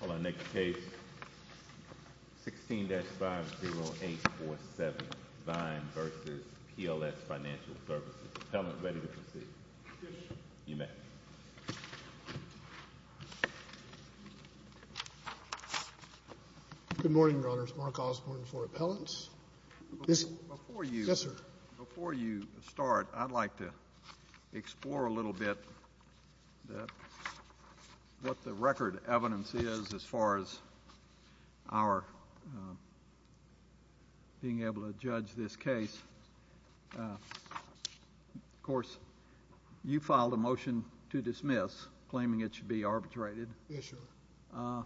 Hold on, next case, 16-50847, Vine v. PLS Financial Services, Appellant ready to proceed. Yes, sir. You may. Good morning, Your Honors. Mark Osborne for Appellants. Yes, sir. Before you start, I'd like to explore a little bit what the record evidence is as far as our being able to judge this case. Of course, you filed a motion to dismiss, claiming it should be arbitrated. Yes, sir.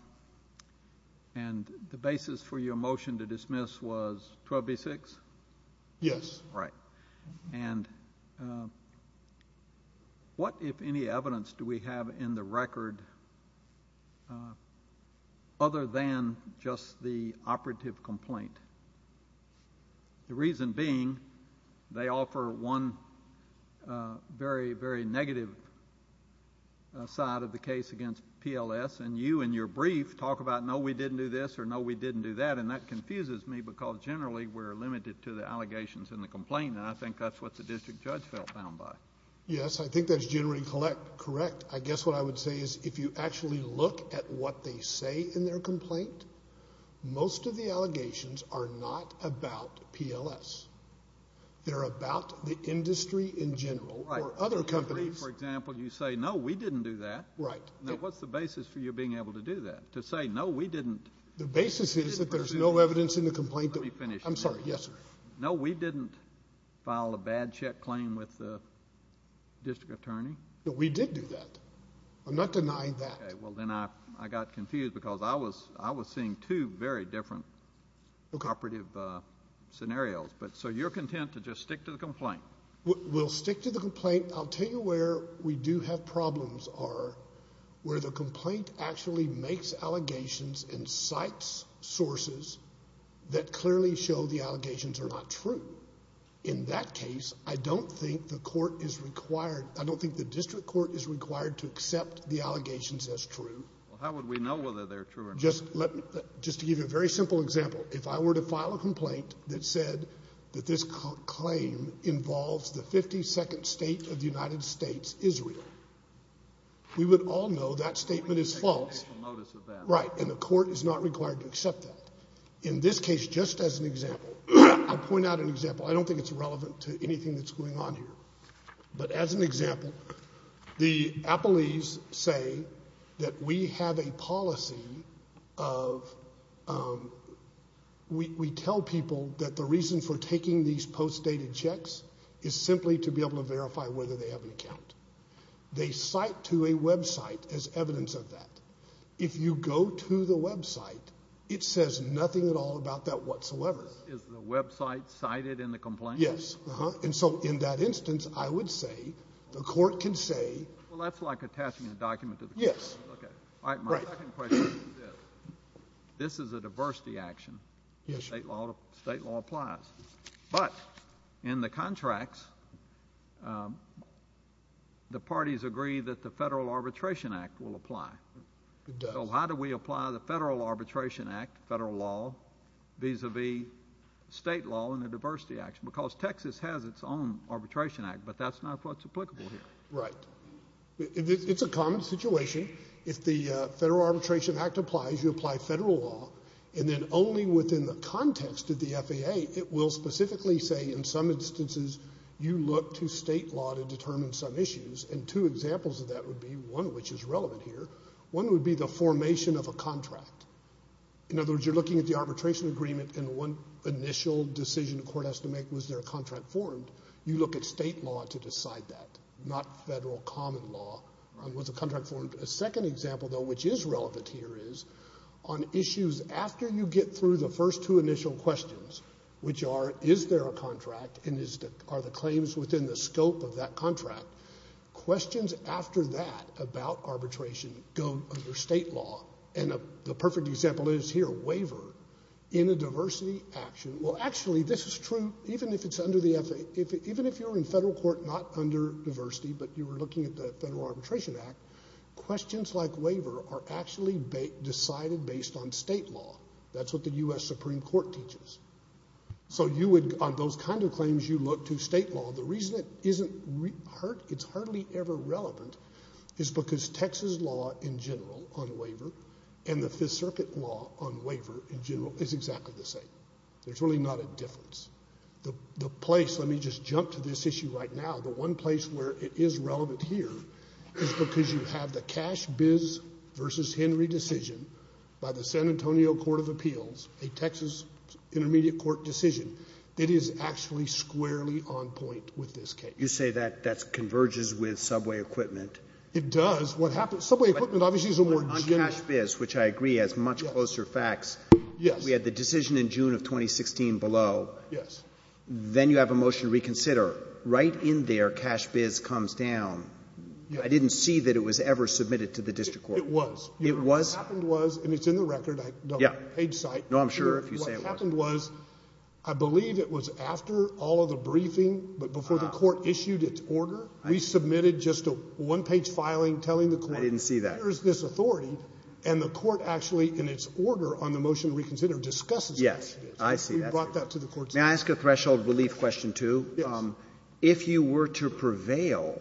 And the basis for your motion to dismiss was 12B-6? Yes. Right. And what, if any, evidence do we have in the record other than just the operative complaint? The reason being, they offer one very, very negative side of the case against PLS, and you in your brief talk about, no, we didn't do this, or no, we didn't do that. And that confuses me because generally we're limited to the allegations in the complaint, and I think that's what the district judge felt found by. Yes, I think that's generally correct. I guess what I would say is if you actually look at what they say in their complaint, most of the allegations are not about PLS. They're about the industry in general or other companies. Right. In your brief, for example, you say, no, we didn't do that. Right. Now, what's the basis for you being able to do that, to say, no, we didn't? The basis is that there's no evidence in the complaint. Let me finish. I'm sorry. Yes, sir. No, we didn't file a bad check claim with the district attorney. No, we did do that. I'm not denying that. Okay. Well, then I got confused because I was seeing two very different operative scenarios. So you're content to just stick to the complaint? We'll stick to the complaint. I'll tell you where we do have problems are where the complaint actually makes allegations and cites sources that clearly show the allegations are not true. In that case, I don't think the court is required. I don't think the district court is required to accept the allegations as true. How would we know whether they're true or not? Just to give you a very simple example, if I were to file a complaint that said that this claim involves the 52nd state of the United States, Israel, we would all know that statement is false. Right. And the court is not required to accept that. In this case, just as an example, I'll point out an example. I don't think it's relevant to anything that's going on here. But as an example, the appellees say that we have a policy of we tell people that the reason for taking these post-dated checks is simply to be able to verify whether they have an account. They cite to a website as evidence of that. If you go to the website, it says nothing at all about that whatsoever. Is the website cited in the complaint? Yes. And so in that instance, I would say the court can say. Well, that's like attaching a document to the complaint. Yes. All right, my second question is this. This is a diversity action. State law applies. But in the contracts, the parties agree that the Federal Arbitration Act will apply. So how do we apply the Federal Arbitration Act, federal law, vis-a-vis state law in a diversity action? Because Texas has its own Arbitration Act, but that's not what's applicable here. Right. It's a common situation. If the Federal Arbitration Act applies, you apply federal law. And then only within the context of the FAA, it will specifically say in some instances you look to state law to determine some issues. And two examples of that would be one which is relevant here. One would be the formation of a contract. In other words, you're looking at the arbitration agreement and one initial decision the court has to make, was there a contract formed? You look at state law to decide that, not federal common law. Was a contract formed? A second example, though, which is relevant here is on issues after you get through the first two initial questions, which are is there a contract and are the claims within the scope of that contract, questions after that about arbitration go under state law. And the perfect example is here, waiver in a diversity action. Well, actually, this is true even if it's under the FAA. Even if you're in federal court not under diversity, but you were looking at the Federal Arbitration Act, questions like waiver are actually decided based on state law. That's what the U.S. Supreme Court teaches. So you would, on those kind of claims, you look to state law. Well, the reason it's hardly ever relevant is because Texas law in general on waiver and the Fifth Circuit law on waiver in general is exactly the same. There's really not a difference. The place, let me just jump to this issue right now, the one place where it is relevant here, is because you have the Cash-Biz v. Henry decision by the San Antonio Court of Appeals, a Texas intermediate court decision, that is actually squarely on point with this case. Roberts. You say that that converges with subway equipment. It does. What happens, subway equipment obviously is a more general. On Cash-Biz, which I agree has much closer facts. Yes. We had the decision in June of 2016 below. Yes. Then you have a motion to reconsider. Right in there, Cash-Biz comes down. I didn't see that it was ever submitted to the district court. It was. It was? What happened was, and it's in the record. Yes. Page site. No, I'm sure if you say it wasn't. What happened was, I believe it was after all of the briefing, but before the court issued its order, we submitted just a one-page filing telling the court. I didn't see that. There is this authority, and the court actually, in its order on the motion to reconsider, discusses Cash-Biz. Yes. I see that. We brought that to the court. May I ask a threshold relief question, too? Yes. If you were to prevail,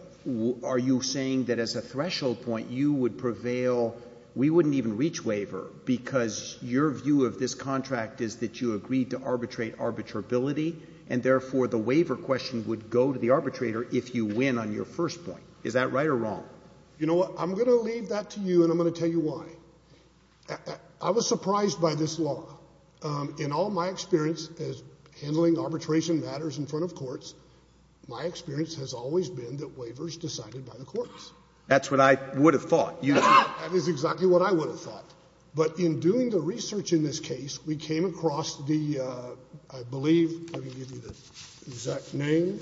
are you saying that as a threshold point you would prevail, we wouldn't even reach waiver because your view of this contract is that you agreed to arbitrate arbitrability, and therefore the waiver question would go to the arbitrator if you win on your first point? Is that right or wrong? You know what? I'm going to leave that to you, and I'm going to tell you why. I was surprised by this law. In all my experience handling arbitration matters in front of courts, my experience has always been that waiver is decided by the courts. That's what I would have thought. That is exactly what I would have thought. But in doing the research in this case, we came across the, I believe, let me give you the exact name.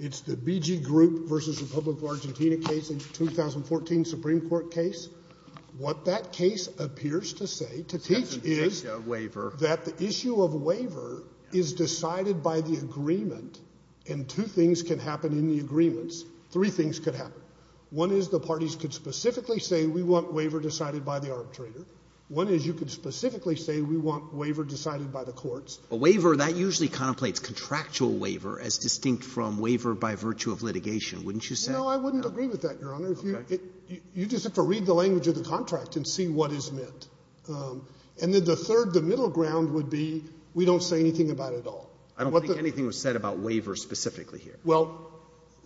It's the BG Group v. Republic of Argentina case, the 2014 Supreme Court case. What that case appears to say, to teach, is that the issue of waiver is decided by the agreement, and two things can happen in the agreements. Three things could happen. One is the parties could specifically say we want waiver decided by the arbitrator. One is you could specifically say we want waiver decided by the courts. But waiver, that usually contemplates contractual waiver as distinct from waiver by virtue of litigation, wouldn't you say? No, I wouldn't agree with that, Your Honor. Okay. You just have to read the language of the contract and see what is meant. And then the third, the middle ground would be we don't say anything about it at all. I don't think anything was said about waiver specifically here. Well,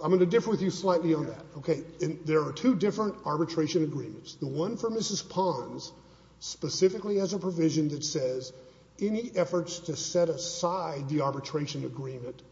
I'm going to differ with you slightly on that. Okay. There are two different arbitration agreements. The one for Mrs. Pons specifically has a provision that says any efforts to set aside the arbitration agreement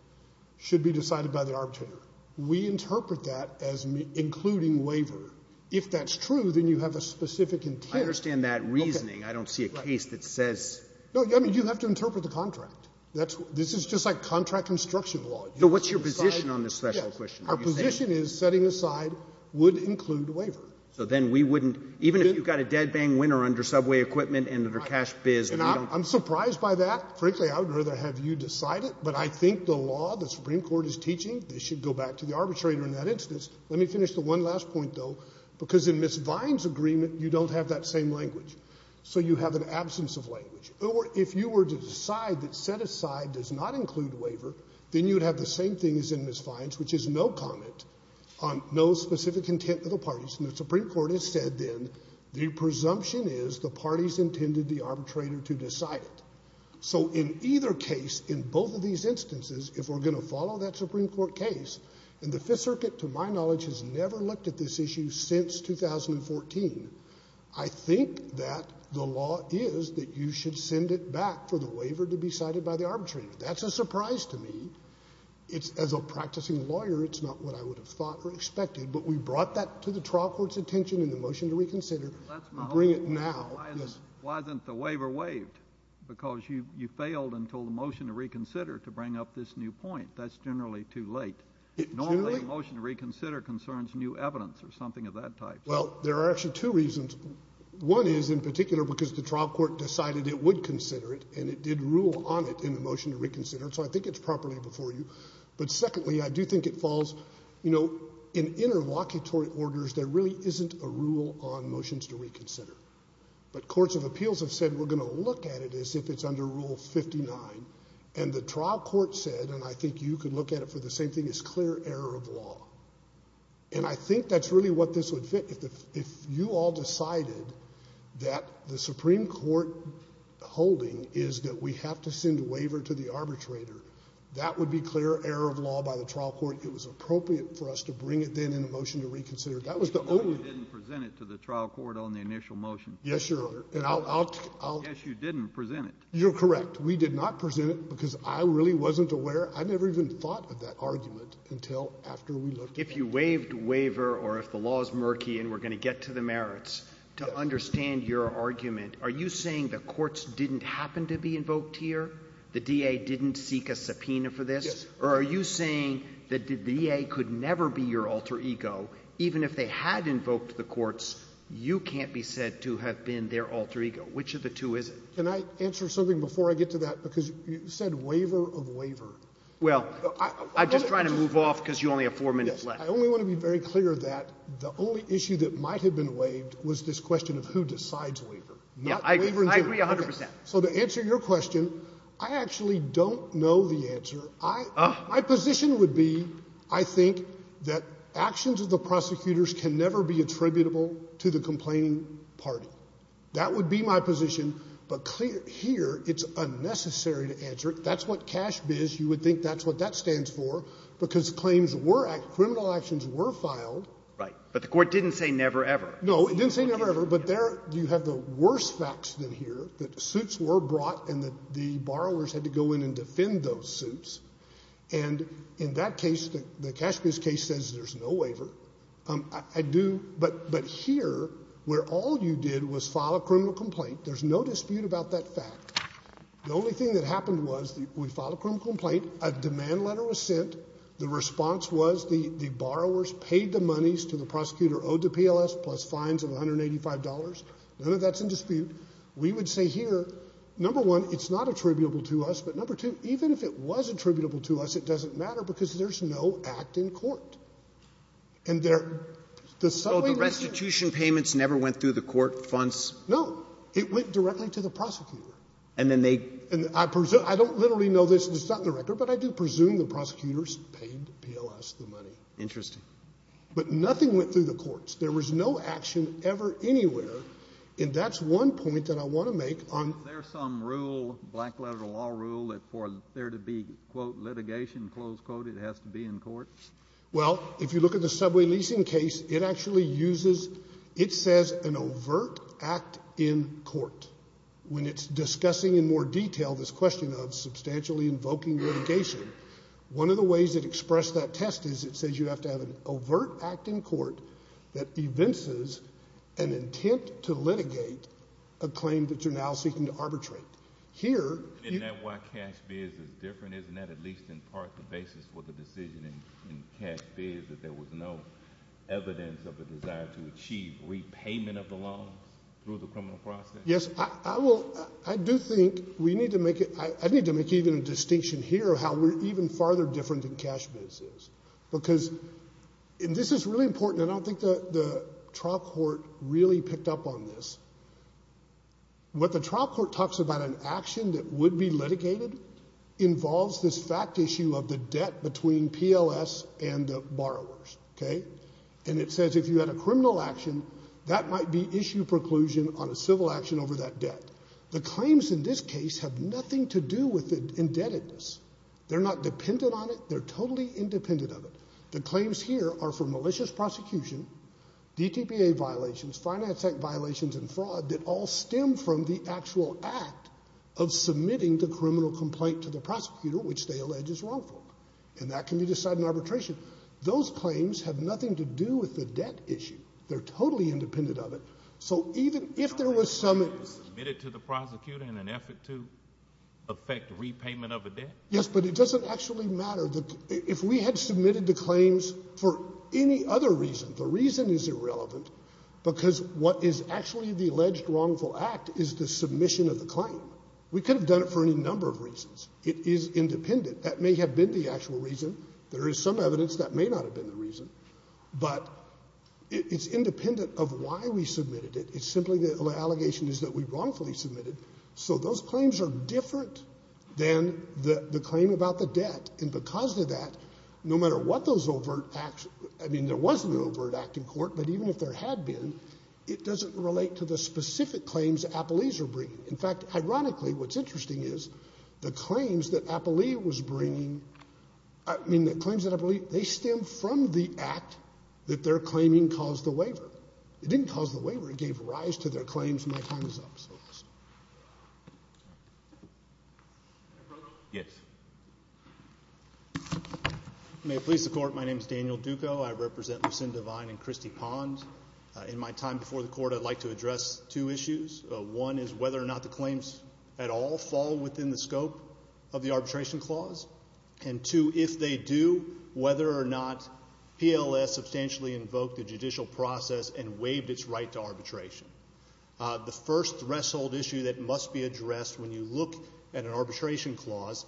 should be decided by the arbitrator. We interpret that as including waiver. If that's true, then you have a specific intent. I understand that reasoning. I don't see a case that says — No, I mean, you have to interpret the contract. This is just like contract construction law. So what's your position on this special question? Yes. Our position is setting aside would include waiver. So then we wouldn't — even if you've got a dead-bang winner under subway equipment and under cash biz and we don't — I'm surprised by that. Frankly, I would rather have you decide it. But I think the law the Supreme Court is teaching, this should go back to the arbitrator in that instance. Let me finish the one last point, though, because in Ms. Vine's agreement, you don't have that same language. So you have an absence of language. If you were to decide that set aside does not include waiver, then you would have the same thing as in Ms. Vine's, which is no comment on no specific intent of the parties. And the Supreme Court has said then the presumption is the parties intended the arbitrator to decide it. So in either case, in both of these instances, if we're going to follow that Supreme Court case, and the Fifth Circuit, to my knowledge, has never looked at this issue since 2014, I think that the law is that you should send it back for the waiver to be cited by the arbitrator. That's a surprise to me. It's — as a practicing lawyer, it's not what I would have thought or expected. But we brought that to the trial court's attention in the motion to reconsider and bring it now. That's my only — Yes. Why isn't the waiver waived? Because you failed until the motion to reconsider to bring up this new point. That's generally too late. It truly — Normally, a motion to reconsider concerns new evidence or something of that type. Well, there are actually two reasons. One is, in particular, because the trial court decided it would consider it, and it did rule on it in the motion to reconsider, so I think it's properly before you. But secondly, I do think it falls — you know, in interlocutory orders, there really isn't a rule on motions to reconsider. But courts of appeals have said we're going to look at it as if it's under Rule 59. And the trial court said, and I think you could look at it for the same thing, it's clear error of law. And I think that's really what this would fit. If you all decided that the Supreme Court holding is that we have to send a waiver to the arbitrator, that would be clear error of law by the trial court. It was appropriate for us to bring it then in the motion to reconsider. That was the only — You said you didn't present it to the trial court on the initial motion. Yes, Your Honor. And I'll — Yes, you didn't present it. You're correct. We did not present it because I really wasn't aware. I never even thought of that argument until after we looked at it. If you waived waiver or if the law is murky and we're going to get to the merits, to understand your argument, are you saying the courts didn't happen to be invoked here, the DA didn't seek a subpoena for this? Yes. Or are you saying that the DA could never be your alter ego, even if they had invoked the courts, you can't be said to have been their alter ego? Which of the two is it? Can I answer something before I get to that? Because you said waiver of waiver. Well, I'm just trying to move off because you only have four minutes left. I only want to be very clear that the only issue that might have been waived was this question of who decides waiver. I agree 100 percent. So to answer your question, I actually don't know the answer. My position would be I think that actions of the prosecutors can never be attributable to the complaining party. That would be my position. But here it's unnecessary to answer it. That's what CASHBiz, you would think that's what that stands for, because claims were acted, criminal actions were filed. Right. But the Court didn't say never, ever. No, it didn't say never, ever. But there you have the worst facts in here, that suits were brought and the borrowers had to go in and defend those suits. And in that case, the CASHBiz case says there's no waiver. But here, where all you did was file a criminal complaint, there's no dispute about that fact, the only thing that happened was we filed a criminal complaint, a demand letter was sent, the response was the borrowers paid the monies to the prosecutor, owed the PLS, plus fines of $185. None of that's in dispute. We would say here, number one, it's not attributable to us, but number two, even if it was attributable to us, it doesn't matter, because there's no act in court. And there — So the restitution payments never went through the court funds? No. It went directly to the prosecutor. And then they — And I presume — I don't literally know this. This is not in the record, but I do presume the prosecutors paid PLS the money. Interesting. But nothing went through the courts. There was no action ever anywhere. And that's one point that I want to make on — Is there some rule, black letter law rule, that for there to be, quote, litigation, close quote, it has to be in court? Well, if you look at the subway leasing case, it actually uses — it says an overt act in court. When it's discussing in more detail this question of substantially invoking litigation, one of the ways it expressed that test is it says you have to have an overt act in court that evinces an intent to litigate a claim that you're now seeking to arbitrate. Here — Isn't that why cash bids is different? Isn't that at least in part the basis for the decision in cash bids, that there was no evidence of a desire to achieve repayment of the loans through the criminal process? Yes, I will — I do think we need to make it — I need to make even a distinction here of how we're even farther different than cash bids is. Because — and this is really important, and I don't think the trial court really picked up on this. What the trial court talks about, an action that would be litigated, involves this fact issue of the debt between PLS and the borrowers, OK? And it says if you had a criminal action, that might be issue preclusion on a civil action over that debt. The claims in this case have nothing to do with indebtedness. They're not dependent on it. They're totally independent of it. The claims here are for malicious prosecution, DTPA violations, finance act violations and fraud that all stem from the actual act of submitting the criminal complaint to the prosecutor, which they allege is wrongful. And that can be decided in arbitration. Those claims have nothing to do with the debt issue. They're totally independent of it. So even if there was some — Yes, but it doesn't actually matter. If we had submitted the claims for any other reason, the reason is irrelevant, because what is actually the alleged wrongful act is the submission of the claim. We could have done it for any number of reasons. It is independent. That may have been the actual reason. There is some evidence that may not have been the reason. But it's independent of why we submitted it. It's simply the allegation is that we wrongfully submitted. So those claims are different than the claim about the debt. And because of that, no matter what those overt acts — I mean, there was no overt act in court, but even if there had been, it doesn't relate to the specific claims that Applees are bringing. In fact, ironically, what's interesting is the claims that Applee was bringing — I mean, the claims that Applee — they stem from the act that they're claiming caused the waiver. It didn't cause the waiver. It gave rise to their claims. My time is up. Yes. May it please the Court, my name is Daniel Duco. I represent Lucinda Vine and Christy Pond. In my time before the Court, I'd like to address two issues. One is whether or not the claims at all fall within the scope of the arbitration clause. And two, if they do, whether or not PLS substantially invoked the judicial process and waived its right to arbitration. The first threshold issue that must be addressed when you look at an arbitration clause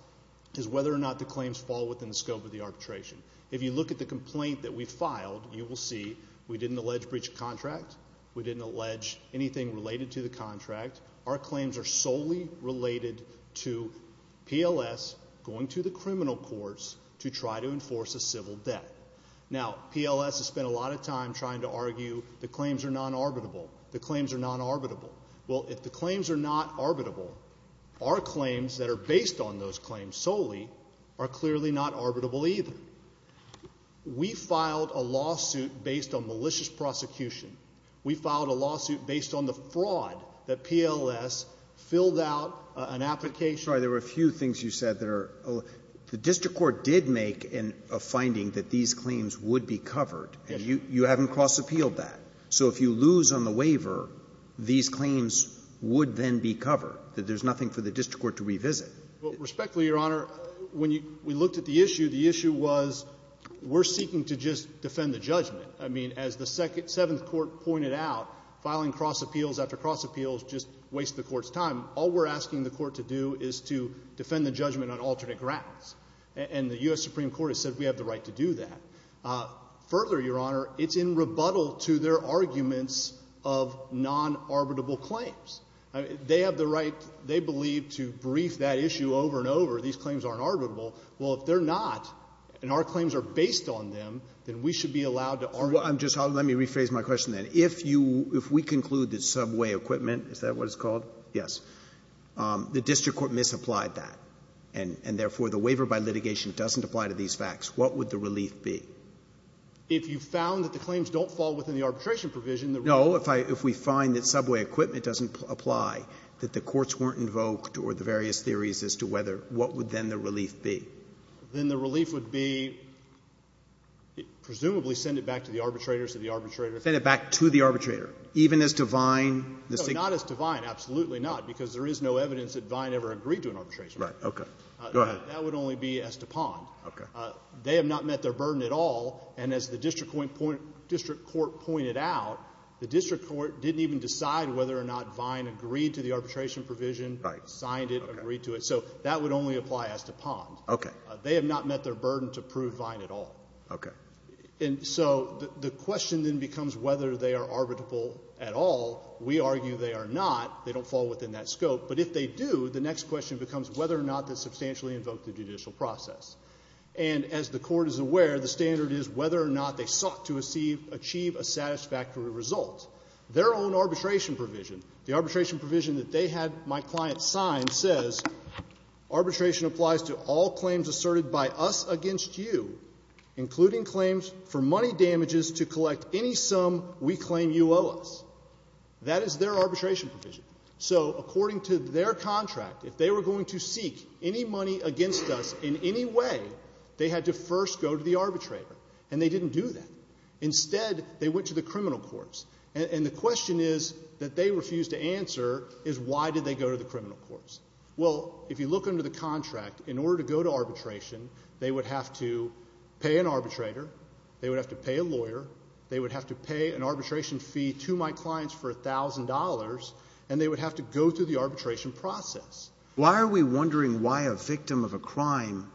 is whether or not the claims fall within the scope of the arbitration. If you look at the complaint that we filed, you will see we didn't allege breach of contract. We didn't allege anything related to the contract. Our claims are solely related to PLS going to the criminal courts to try to enforce a civil debt. Now, PLS has spent a lot of time trying to argue the claims are non-arbitrable. The claims are non-arbitrable. Well, if the claims are not arbitrable, our claims that are based on those claims solely are clearly not arbitrable either. We filed a lawsuit based on malicious prosecution. We filed a lawsuit based on the fraud that PLS filled out an application. Sorry. There were a few things you said that are — the district court did make a finding that these claims would be covered. Yes. And you haven't cross-appealed that. So if you lose on the waiver, these claims would then be covered, that there's nothing for the district court to revisit. Well, respectfully, Your Honor, when we looked at the issue, the issue was we're seeking to just defend the judgment. I mean, as the Seventh Court pointed out, filing cross-appeals after cross-appeals just wastes the court's time. All we're asking the court to do is to defend the judgment on alternate grounds. And the U.S. Supreme Court has said we have the right to do that. Further, Your Honor, it's in rebuttal to their arguments of non-arbitrable claims. They have the right, they believe, to brief that issue over and over. These claims aren't arbitrable. Well, if they're not, and our claims are based on them, then we should be allowed to argue. Well, I'm just — let me rephrase my question, then. If you — if we conclude that subway equipment — is that what it's called? Yes. The district court misapplied that, and therefore the waiver by litigation doesn't apply to these facts. What would the relief be? If you found that the claims don't fall within the arbitration provision, the relief — If I — if we find that subway equipment doesn't apply, that the courts weren't theories as to whether — what would then the relief be? Then the relief would be presumably send it back to the arbitrator, so the arbitrator — Send it back to the arbitrator, even as to Vine — No, not as to Vine, absolutely not, because there is no evidence that Vine ever agreed to an arbitration. Right, okay. Go ahead. That would only be as to Pond. Okay. They have not met their burden at all, and as the district court pointed out, the district court didn't even decide whether or not Vine agreed to the arbitration provision, signed it, agreed to it. So that would only apply as to Pond. Okay. They have not met their burden to prove Vine at all. Okay. And so the question then becomes whether they are arbitrable at all. We argue they are not. They don't fall within that scope. But if they do, the next question becomes whether or not that substantially invoked the judicial process. And as the Court is aware, the standard is whether or not they sought to achieve a satisfactory result. Their own arbitration provision, the arbitration provision that they had my client sign, says arbitration applies to all claims asserted by us against you, including claims for money damages to collect any sum we claim you owe us. That is their arbitration provision. So according to their contract, if they were going to seek any money against us in any way, they had to first go to the arbitrator. And they didn't do that. Instead, they went to the criminal courts. And the question is, that they refused to answer, is why did they go to the criminal courts? Well, if you look under the contract, in order to go to arbitration, they would have to pay an arbitrator, they would have to pay a lawyer, they would have to pay an arbitration fee to my clients for $1,000, and they would have to go through the arbitration process. Why are we wondering why a victim of a crime,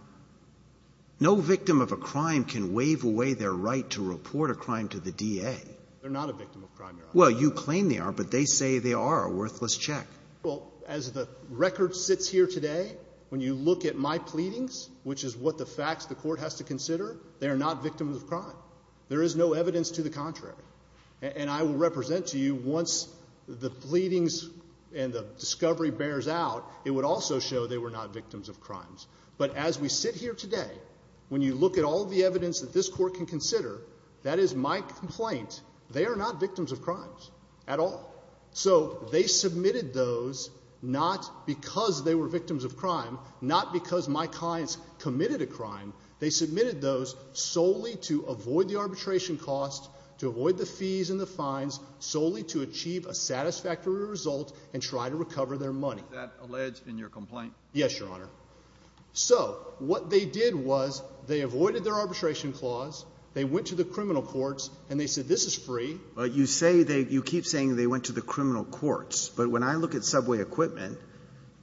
no victim of a crime can waive away their right to report a crime to the DA? They're not a victim of crime, Your Honor. Well, you claim they are, but they say they are a worthless check. Well, as the record sits here today, when you look at my pleadings, which is what the facts the Court has to consider, they are not victims of crime. There is no evidence to the contrary. And I will represent to you, once the pleadings and the discovery bears out, it would also show they were not victims of crimes. But as we sit here today, when you look at all the evidence that this Court can consider, that is my complaint, they are not victims of crimes at all. So they submitted those not because they were victims of crime, not because my clients committed a crime, they submitted those solely to avoid the arbitration costs, to avoid the fees and the fines, solely to achieve a satisfactory result and try to recover their money. Is that alleged in your complaint? Yes, Your Honor. So, what they did was they avoided their arbitration clause, they went to the criminal courts, and they said this is free. But you say they, you keep saying they went to the criminal courts. But when I look at subway equipment,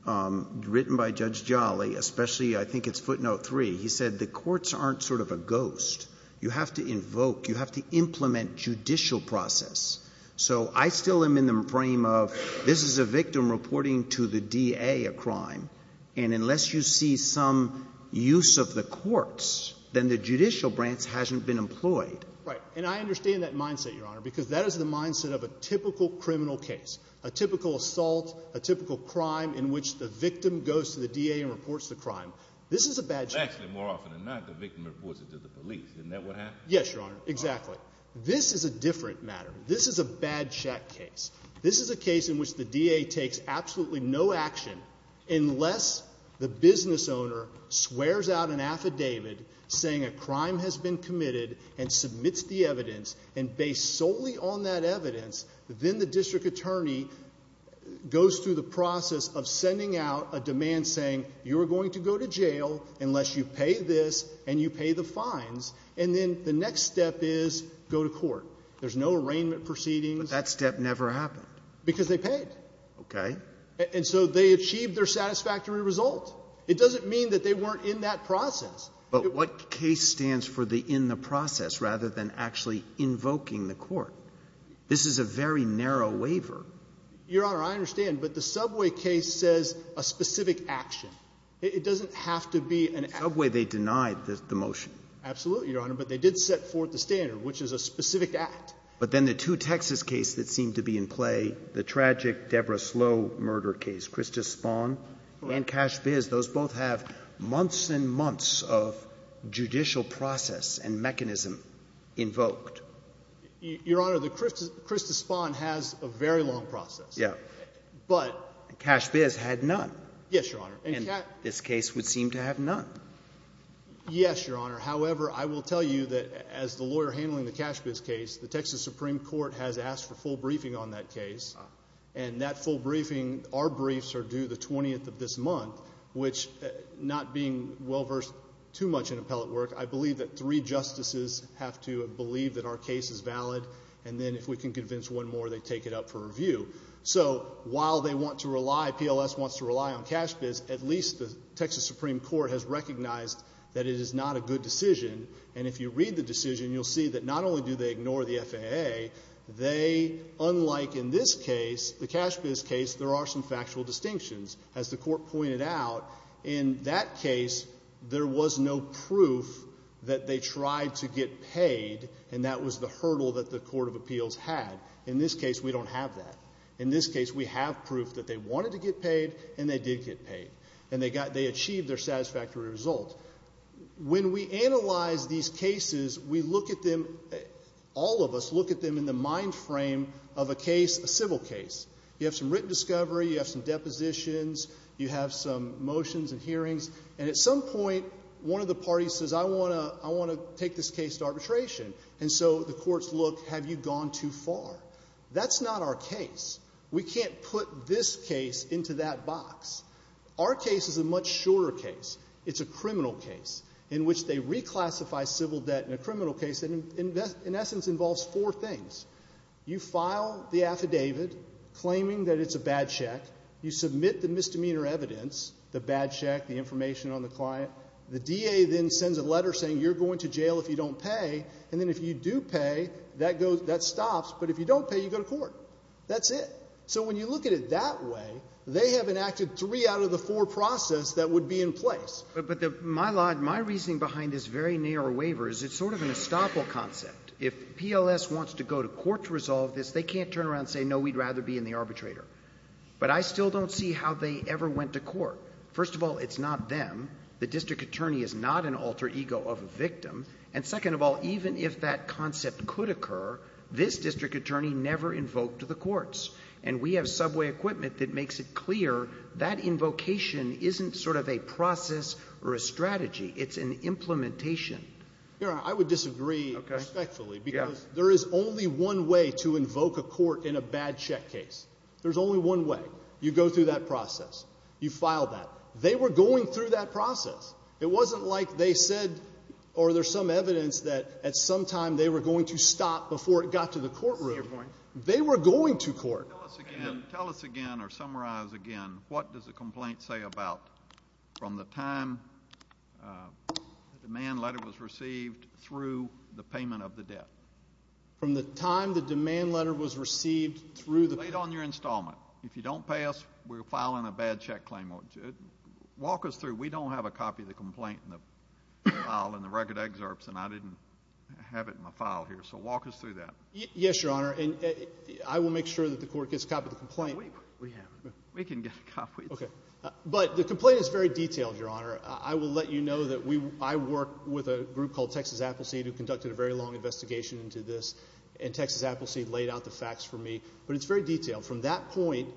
written by Judge Jolly, especially I think it's footnote three, he said the courts aren't sort of a ghost. You have to invoke, you have to implement judicial process. So, I still am in the frame of this is a victim reporting to the DA a crime, and unless you see some use of the courts, then the judicial branch hasn't been employed. Right. And I understand that mindset, Your Honor, because that is the mindset of a typical criminal case, a typical assault, a typical crime in which the victim goes to the DA and reports the crime. This is a bad choice. Actually, more often than not, the victim reports it to the police. Isn't that what happened? Yes, Your Honor. Exactly. But this is a different matter. This is a bad check case. This is a case in which the DA takes absolutely no action unless the business owner swears out an affidavit saying a crime has been committed and submits the evidence, and based solely on that evidence, then the district attorney goes through the process of sending out a demand saying you are going to go to jail unless you pay this and you pay the fines. And then the next step is go to court. There's no arraignment proceedings. But that step never happened. Because they paid. Okay. And so they achieved their satisfactory result. It doesn't mean that they weren't in that process. But what case stands for the in the process rather than actually invoking the court? This is a very narrow waiver. Your Honor, I understand. But the Subway case says a specific action. It doesn't have to be an action. In Subway, they denied the motion. Absolutely, Your Honor. But they did set forth the standard, which is a specific act. But then the two Texas cases that seem to be in play, the tragic Deborah Slough murder case, Krista Spahn and Cash Viz, those both have months and months of judicial process and mechanism invoked. Your Honor, the Krista Spahn has a very long process. Yeah. But Cash Viz had none. Yes, Your Honor. And this case would seem to have none. Yes, Your Honor. However, I will tell you that as the lawyer handling the Cash Viz case, the Texas Supreme Court has asked for full briefing on that case. And that full briefing, our briefs are due the 20th of this month, which not being well versed too much in appellate work, I believe that three justices have to believe that our case is valid. And then if we can convince one more, they take it up for review. So while they want to rely, PLS wants to rely on Cash Viz, at least the Texas Supreme Court has recognized that it is not a good decision. And if you read the decision, you'll see that not only do they ignore the FAA, they, unlike in this case, the Cash Viz case, there are some factual distinctions. As the Court pointed out, in that case, there was no proof that they tried to get paid and that was the hurdle that the Court of Appeals had. In this case, we don't have that. In this case, we have proof that they wanted to get paid and they did get paid. And they achieved their satisfactory result. When we analyze these cases, we look at them, all of us look at them in the mind frame of a case, a civil case. You have some written discovery, you have some depositions, you have some motions and hearings, and at some point, one of the parties says, I want to take this case to arbitration. And so the courts look, have you gone too far? That's not our case. We can't put this case into that box. Our case is a much shorter case. It's a criminal case in which they reclassify civil debt in a criminal case that in essence involves four things. You file the affidavit claiming that it's a bad check. You submit the misdemeanor evidence, the bad check, the information on the client. The DA then sends a letter saying you're going to jail if you don't pay. And then if you do pay, that goes, that stops. But if you don't pay, you go to court. That's it. So when you look at it that way, they have enacted three out of the four process that would be in place. But my reasoning behind this very narrow waiver is it's sort of an estoppel concept. If PLS wants to go to court to resolve this, they can't turn around and say, no, we'd rather be in the arbitrator. But I still don't see how they ever went to court. First of all, it's not them. The district attorney is not an alter ego of a victim. And second of all, even if that concept could occur, this district attorney never invoked the courts. And we have subway equipment that makes it clear that invocation isn't sort of a process or a strategy. It's an implementation. I would disagree respectfully because there is only one way to invoke a court in a bad check case. There's only one way. You go through that process. You file that. They were going through that process. It wasn't like they said or there's some evidence that at some time they were going to stop before it got to the courtroom. They were going to court. Tell us again or summarize again what does the complaint say about from the time the demand letter was received through the payment of the debt? From the time the demand letter was received through the payment. Late on your installment. If you don't pay us, we're filing a bad check claim. Walk us through. We don't have a copy of the complaint in the file in the record excerpts, and I didn't have it in my file here. So walk us through that. Yes, Your Honor, and I will make sure that the court gets a copy of the complaint. We have it. We can get a copy. Okay. But the complaint is very detailed, Your Honor. I will let you know that I work with a group called Texas Appleseed who conducted a very long investigation into this, and Texas Appleseed laid out the facts for me. But it's very detailed. From that point,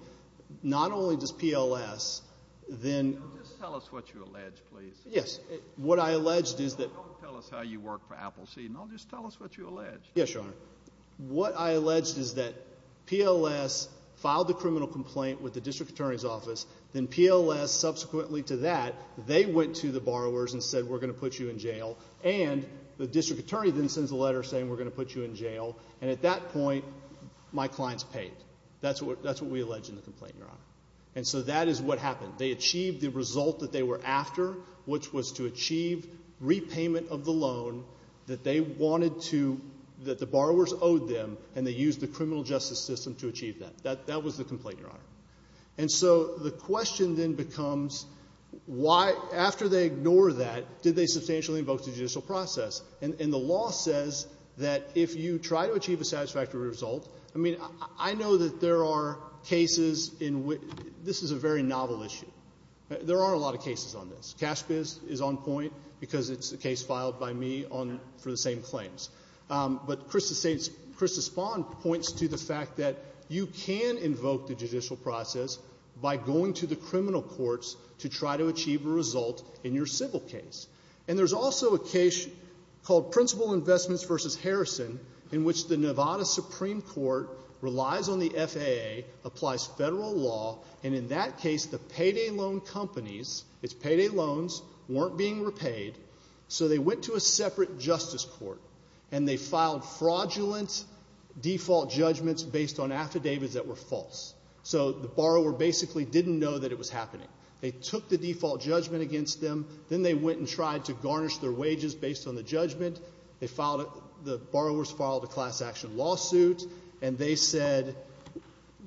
not only does PLS then. Just tell us what you allege, please. Yes. What I alleged is that. Don't tell us how you work for Appleseed. No, just tell us what you allege. Yes, Your Honor. What I alleged is that PLS filed the criminal complaint with the district attorney's office, then PLS subsequently to that, they went to the borrowers and said, we're going to put you in jail. And the district attorney then sends a letter saying, we're going to put you in jail. And at that point, my clients paid. That's what we allege in the complaint, Your Honor. And so that is what happened. They achieved the result that they were after, which was to achieve repayment of the loan that they wanted to, that the borrowers owed them, and they used the criminal justice system to achieve that. That was the complaint, Your Honor. And so the question then becomes, why, after they ignore that, did they substantially invoke the judicial process? And the law says that if you try to achieve a satisfactory result, I mean, I know that there are cases in which this is a very novel issue. There are a lot of cases on this. CashBiz is on point because it's a case filed by me for the same claims. But Krista Spahn points to the fact that you can invoke the judicial process by going to the criminal courts to try to achieve a result in your civil case. And there's also a case called Principal Investments v. Harrison in which the Nevada Supreme Court relies on the FAA, applies federal law, and in that case, the payday loan companies, its payday loans, weren't being repaid, so they went to a separate justice court, and they filed fraudulent default judgments based on affidavits that were false. So the borrower basically didn't know that it was happening. They took the default judgment against them. Then they went and tried to garnish their wages based on the judgment. They filed a – the borrowers filed a class-action lawsuit, and they said,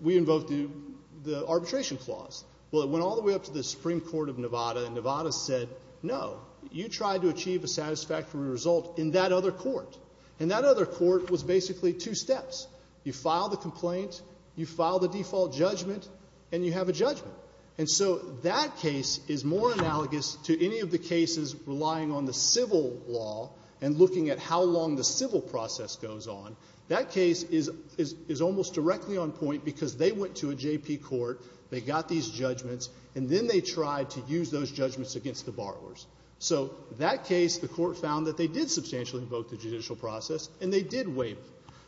we invoke the arbitration clause. Well, it went all the way up to the Supreme Court of Nevada, and Nevada said, no, you tried to achieve a satisfactory result in that other court. And that other court was basically two steps. You file the complaint, you file the default judgment, and you have a judgment. And so that case is more analogous to any of the cases relying on the civil law and looking at how long the civil process goes on. That case is almost directly on point because they went to a JP court, they got these judgments, and then they tried to use those judgments against the borrowers. So that case, the court found that they did substantially invoke the judicial process, and they did waive.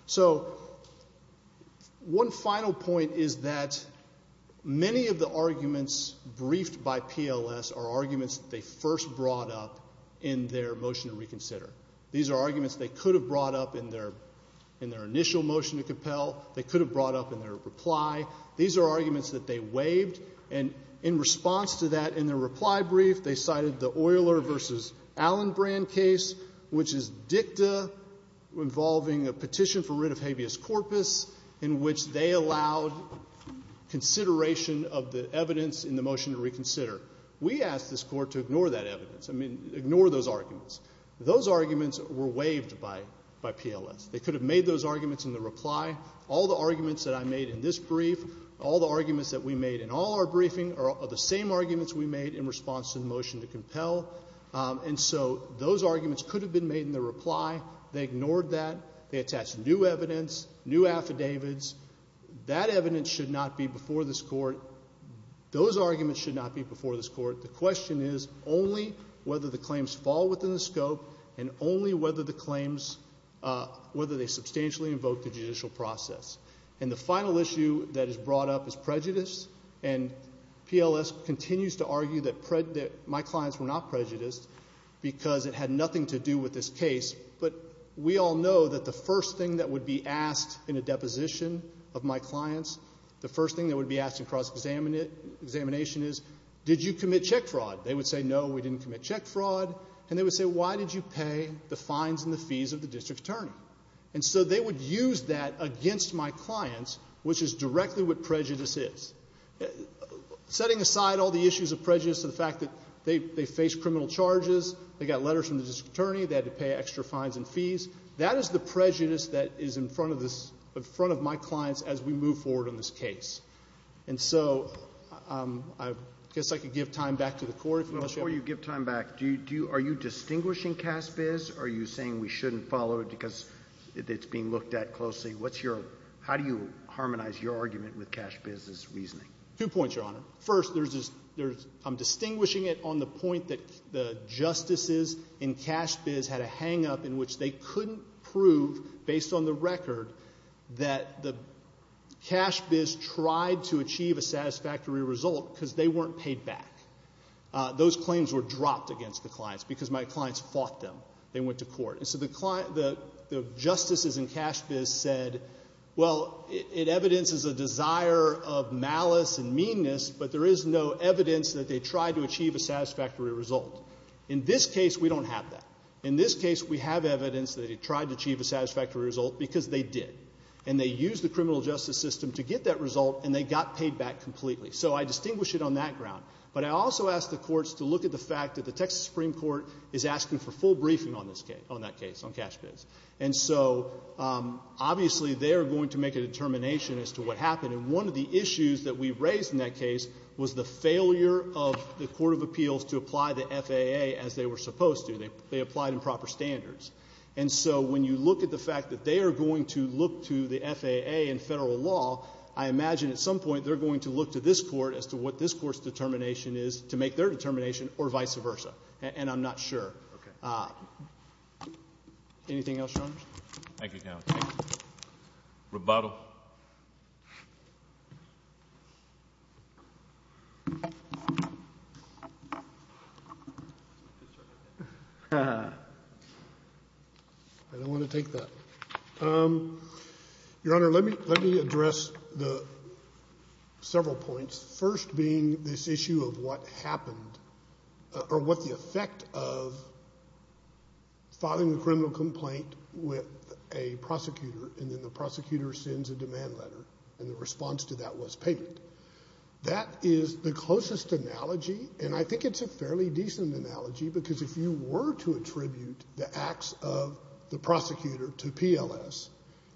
So one final point is that many of the arguments briefed by PLS are arguments that they first brought up in their motion to reconsider. These are arguments they could have brought up in their initial motion to compel. They could have brought up in their reply. These are arguments that they waived. And in response to that, in their reply brief, they cited the Euler v. Allen brand case, which is dicta involving a petition for writ of habeas corpus, in which they allowed consideration of the evidence in the motion to reconsider. We asked this court to ignore that evidence. I mean, ignore those arguments. Those arguments were waived by PLS. They could have made those arguments in their reply. All the arguments that I made in this brief, all the arguments that we made in all our briefing, are the same arguments we made in response to the motion to compel. And so those arguments could have been made in their reply. They ignored that. They attached new evidence, new affidavits. That evidence should not be before this court. Those arguments should not be before this court. The question is only whether the claims fall within the scope and only whether the claims substantially invoke the judicial process. And the final issue that is brought up is prejudice. And PLS continues to argue that my clients were not prejudiced because it had nothing to do with this case. But we all know that the first thing that would be asked in a deposition of my clients, the first thing that would be asked in cross-examination is, did you commit check fraud? They would say, no, we didn't commit check fraud. And they would say, why did you pay the fines and the fees of the district attorney? And so they would use that against my clients, which is directly what prejudice is. Setting aside all the issues of prejudice, the fact that they faced criminal charges, they got letters from the district attorney, they had to pay extra fines and fees, that is the prejudice that is in front of my clients as we move forward on this case. And so I guess I could give time back to the Court if you want to share that. Before you give time back, are you distinguishing Cass biz or are you saying we shouldn't follow it because it's being looked at closely? How do you harmonize your argument with Cass biz's reasoning? Two points, Your Honor. First, I'm distinguishing it on the point that the justices in Cass biz had a hangup in which they couldn't prove based on the record that the Cass biz tried to achieve a satisfactory result because they weren't paid back. Those claims were dropped against the clients because my clients fought them. They went to court. And so the justices in Cass biz said, well, it evidences a desire of malice and meanness, but there is no evidence that they tried to achieve a satisfactory result. In this case, we don't have that. In this case, we have evidence that they tried to achieve a satisfactory result because they did. And they used the criminal justice system to get that result, and they got paid back completely. So I distinguish it on that ground. But I also ask the courts to look at the fact that the Texas Supreme Court is asking for full briefing on this case, on that case, on Cass biz. And so obviously they are going to make a determination as to what happened. And one of the issues that we raised in that case was the failure of the Court of Appeals to apply the FAA as they were supposed to. They applied in proper standards. And so when you look at the fact that they are going to look to the FAA and federal law, I imagine at some point they're going to look to this court as to what this court's determination is to make their determination or vice versa. And I'm not sure. Okay. Anything else, Your Honors? Thank you, counsel. Rebuttal. I don't want to take that. Your Honor, let me address the several points, first being this issue of what happened or what the effect of filing a criminal complaint with a prosecutor and then the prosecutor sends a demand letter and the response to that was payment. That is the closest analogy, and I think it's a fairly decent analogy, because if you were to attribute the acts of the prosecutor to PLS,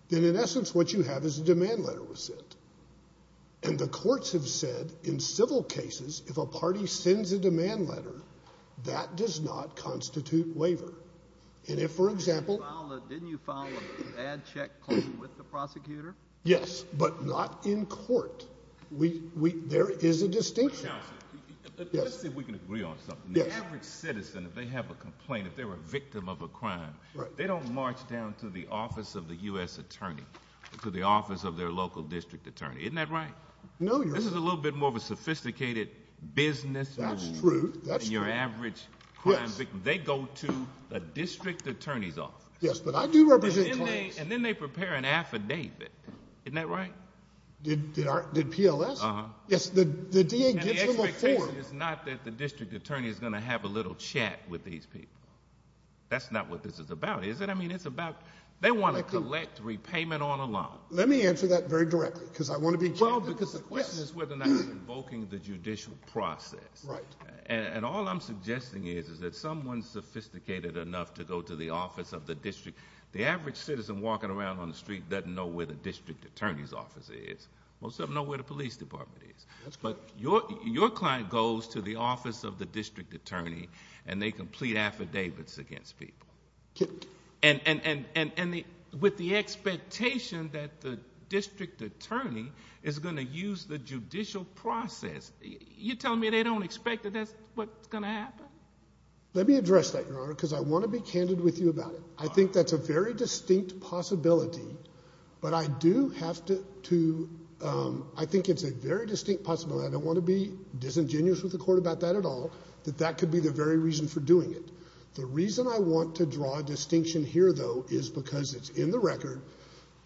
then in essence what you have is a demand letter was sent. And the courts have said in civil cases if a party sends a demand letter, that does not constitute waiver. And if, for example — Didn't you file a bad check claim with the prosecutor? Yes, but not in court. There is a distinction. Counsel, let's see if we can agree on something. The average citizen, if they have a complaint, if they're a victim of a crime, they don't march down to the office of the U.S. attorney, to the office of their local district attorney. Isn't that right? No, Your Honor. This is a little bit more of a sophisticated business. That's true. In your average crime victim, they go to the district attorney's office. Yes, but I do represent clients. And then they prepare an affidavit. Isn't that right? Did PLS? Uh-huh. Yes, the DA gives them a form. And the expectation is not that the district attorney is going to have a little chat with these people. That's not what this is about, is it? I mean, it's about they want to collect repayment on a loan. Let me answer that very directly, because I want to be clear. Well, because the question is whether or not you're invoking the judicial process. Right. And all I'm suggesting is that someone's sophisticated enough to go to the office of the district. The average citizen walking around on the street doesn't know where the district attorney's office is. Most of them know where the police department is. But your client goes to the office of the district attorney, and they complete affidavits against people. And with the expectation that the district attorney is going to use the judicial process, you're telling me they don't expect that that's what's going to happen? Let me address that, Your Honor, because I want to be candid with you about it. I think that's a very distinct possibility. But I do have to—I think it's a very distinct possibility. I don't want to be disingenuous with the court about that at all, that that could be the very reason for doing it. The reason I want to draw a distinction here, though, is because it's in the record.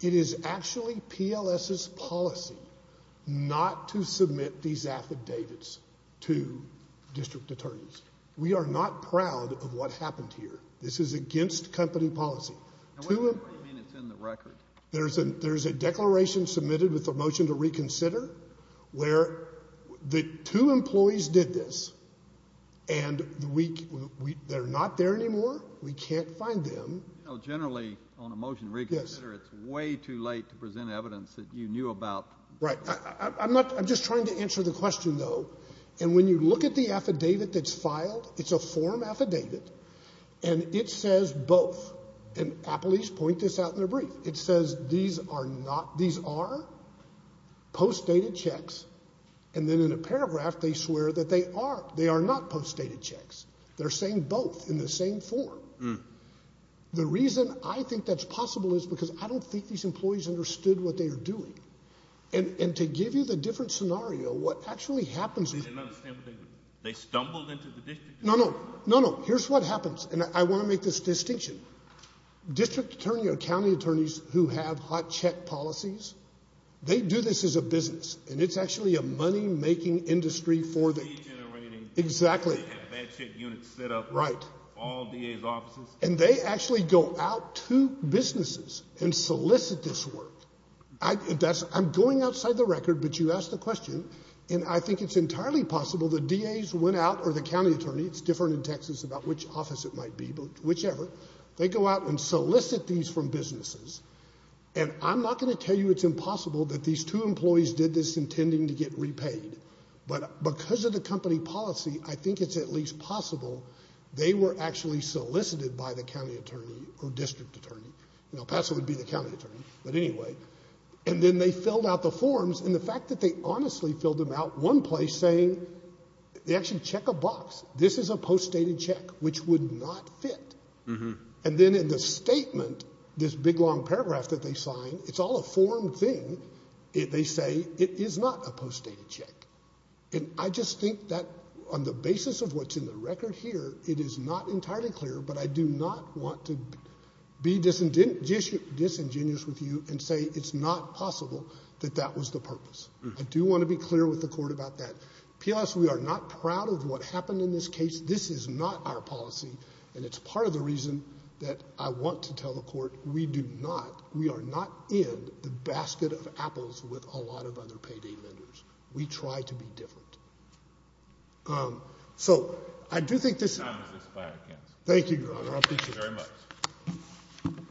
It is actually PLS's policy not to submit these affidavits to district attorneys. We are not proud of what happened here. This is against company policy. What do you mean it's in the record? There's a declaration submitted with a motion to reconsider where the two employees did this, and they're not there anymore. We can't find them. Generally, on a motion to reconsider, it's way too late to present evidence that you knew about. Right. I'm just trying to answer the question, though. And when you look at the affidavit that's filed, it's a form affidavit, and it says both. And please point this out in the brief. It says these are not—these are postdated checks, and then in a paragraph they swear that they are. They are not postdated checks. They're saying both in the same form. The reason I think that's possible is because I don't think these employees understood what they were doing. And to give you the different scenario, what actually happens— They didn't understand what they were doing. They stumbled into the district attorney. No, no, no, no. Here's what happens, and I want to make this distinction. District attorney or county attorneys who have hot check policies, they do this as a business, and it's actually a money-making industry for the— De-generating. Exactly. They have bad check units set up in all DA's offices. And they actually go out to businesses and solicit this work. I'm going outside the record, but you asked the question, and I think it's entirely possible the DA's went out or the county attorney— it's different in Texas about which office it might be, but whichever— they go out and solicit these from businesses. And I'm not going to tell you it's impossible that these two employees did this intending to get repaid, but because of the company policy, I think it's at least possible they were actually solicited by the county attorney or district attorney. You know, Paso would be the county attorney, but anyway. And then they filled out the forms, and the fact that they honestly filled them out, one place saying—they actually check a box. This is a post-dated check, which would not fit. And then in the statement, this big long paragraph that they signed, it's all a form thing. They say it is not a post-dated check. And I just think that on the basis of what's in the record here, it is not entirely clear, but I do not want to be disingenuous with you and say it's not possible that that was the purpose. I do want to be clear with the court about that. P.S., we are not proud of what happened in this case. This is not our policy, and it's part of the reason that I want to tell the court we do not—we are not in the basket of apples with a lot of other payday lenders. We try to be different. So I do think this— The time has expired, counsel. Thank you, Your Honor. I appreciate it. Thank you very much.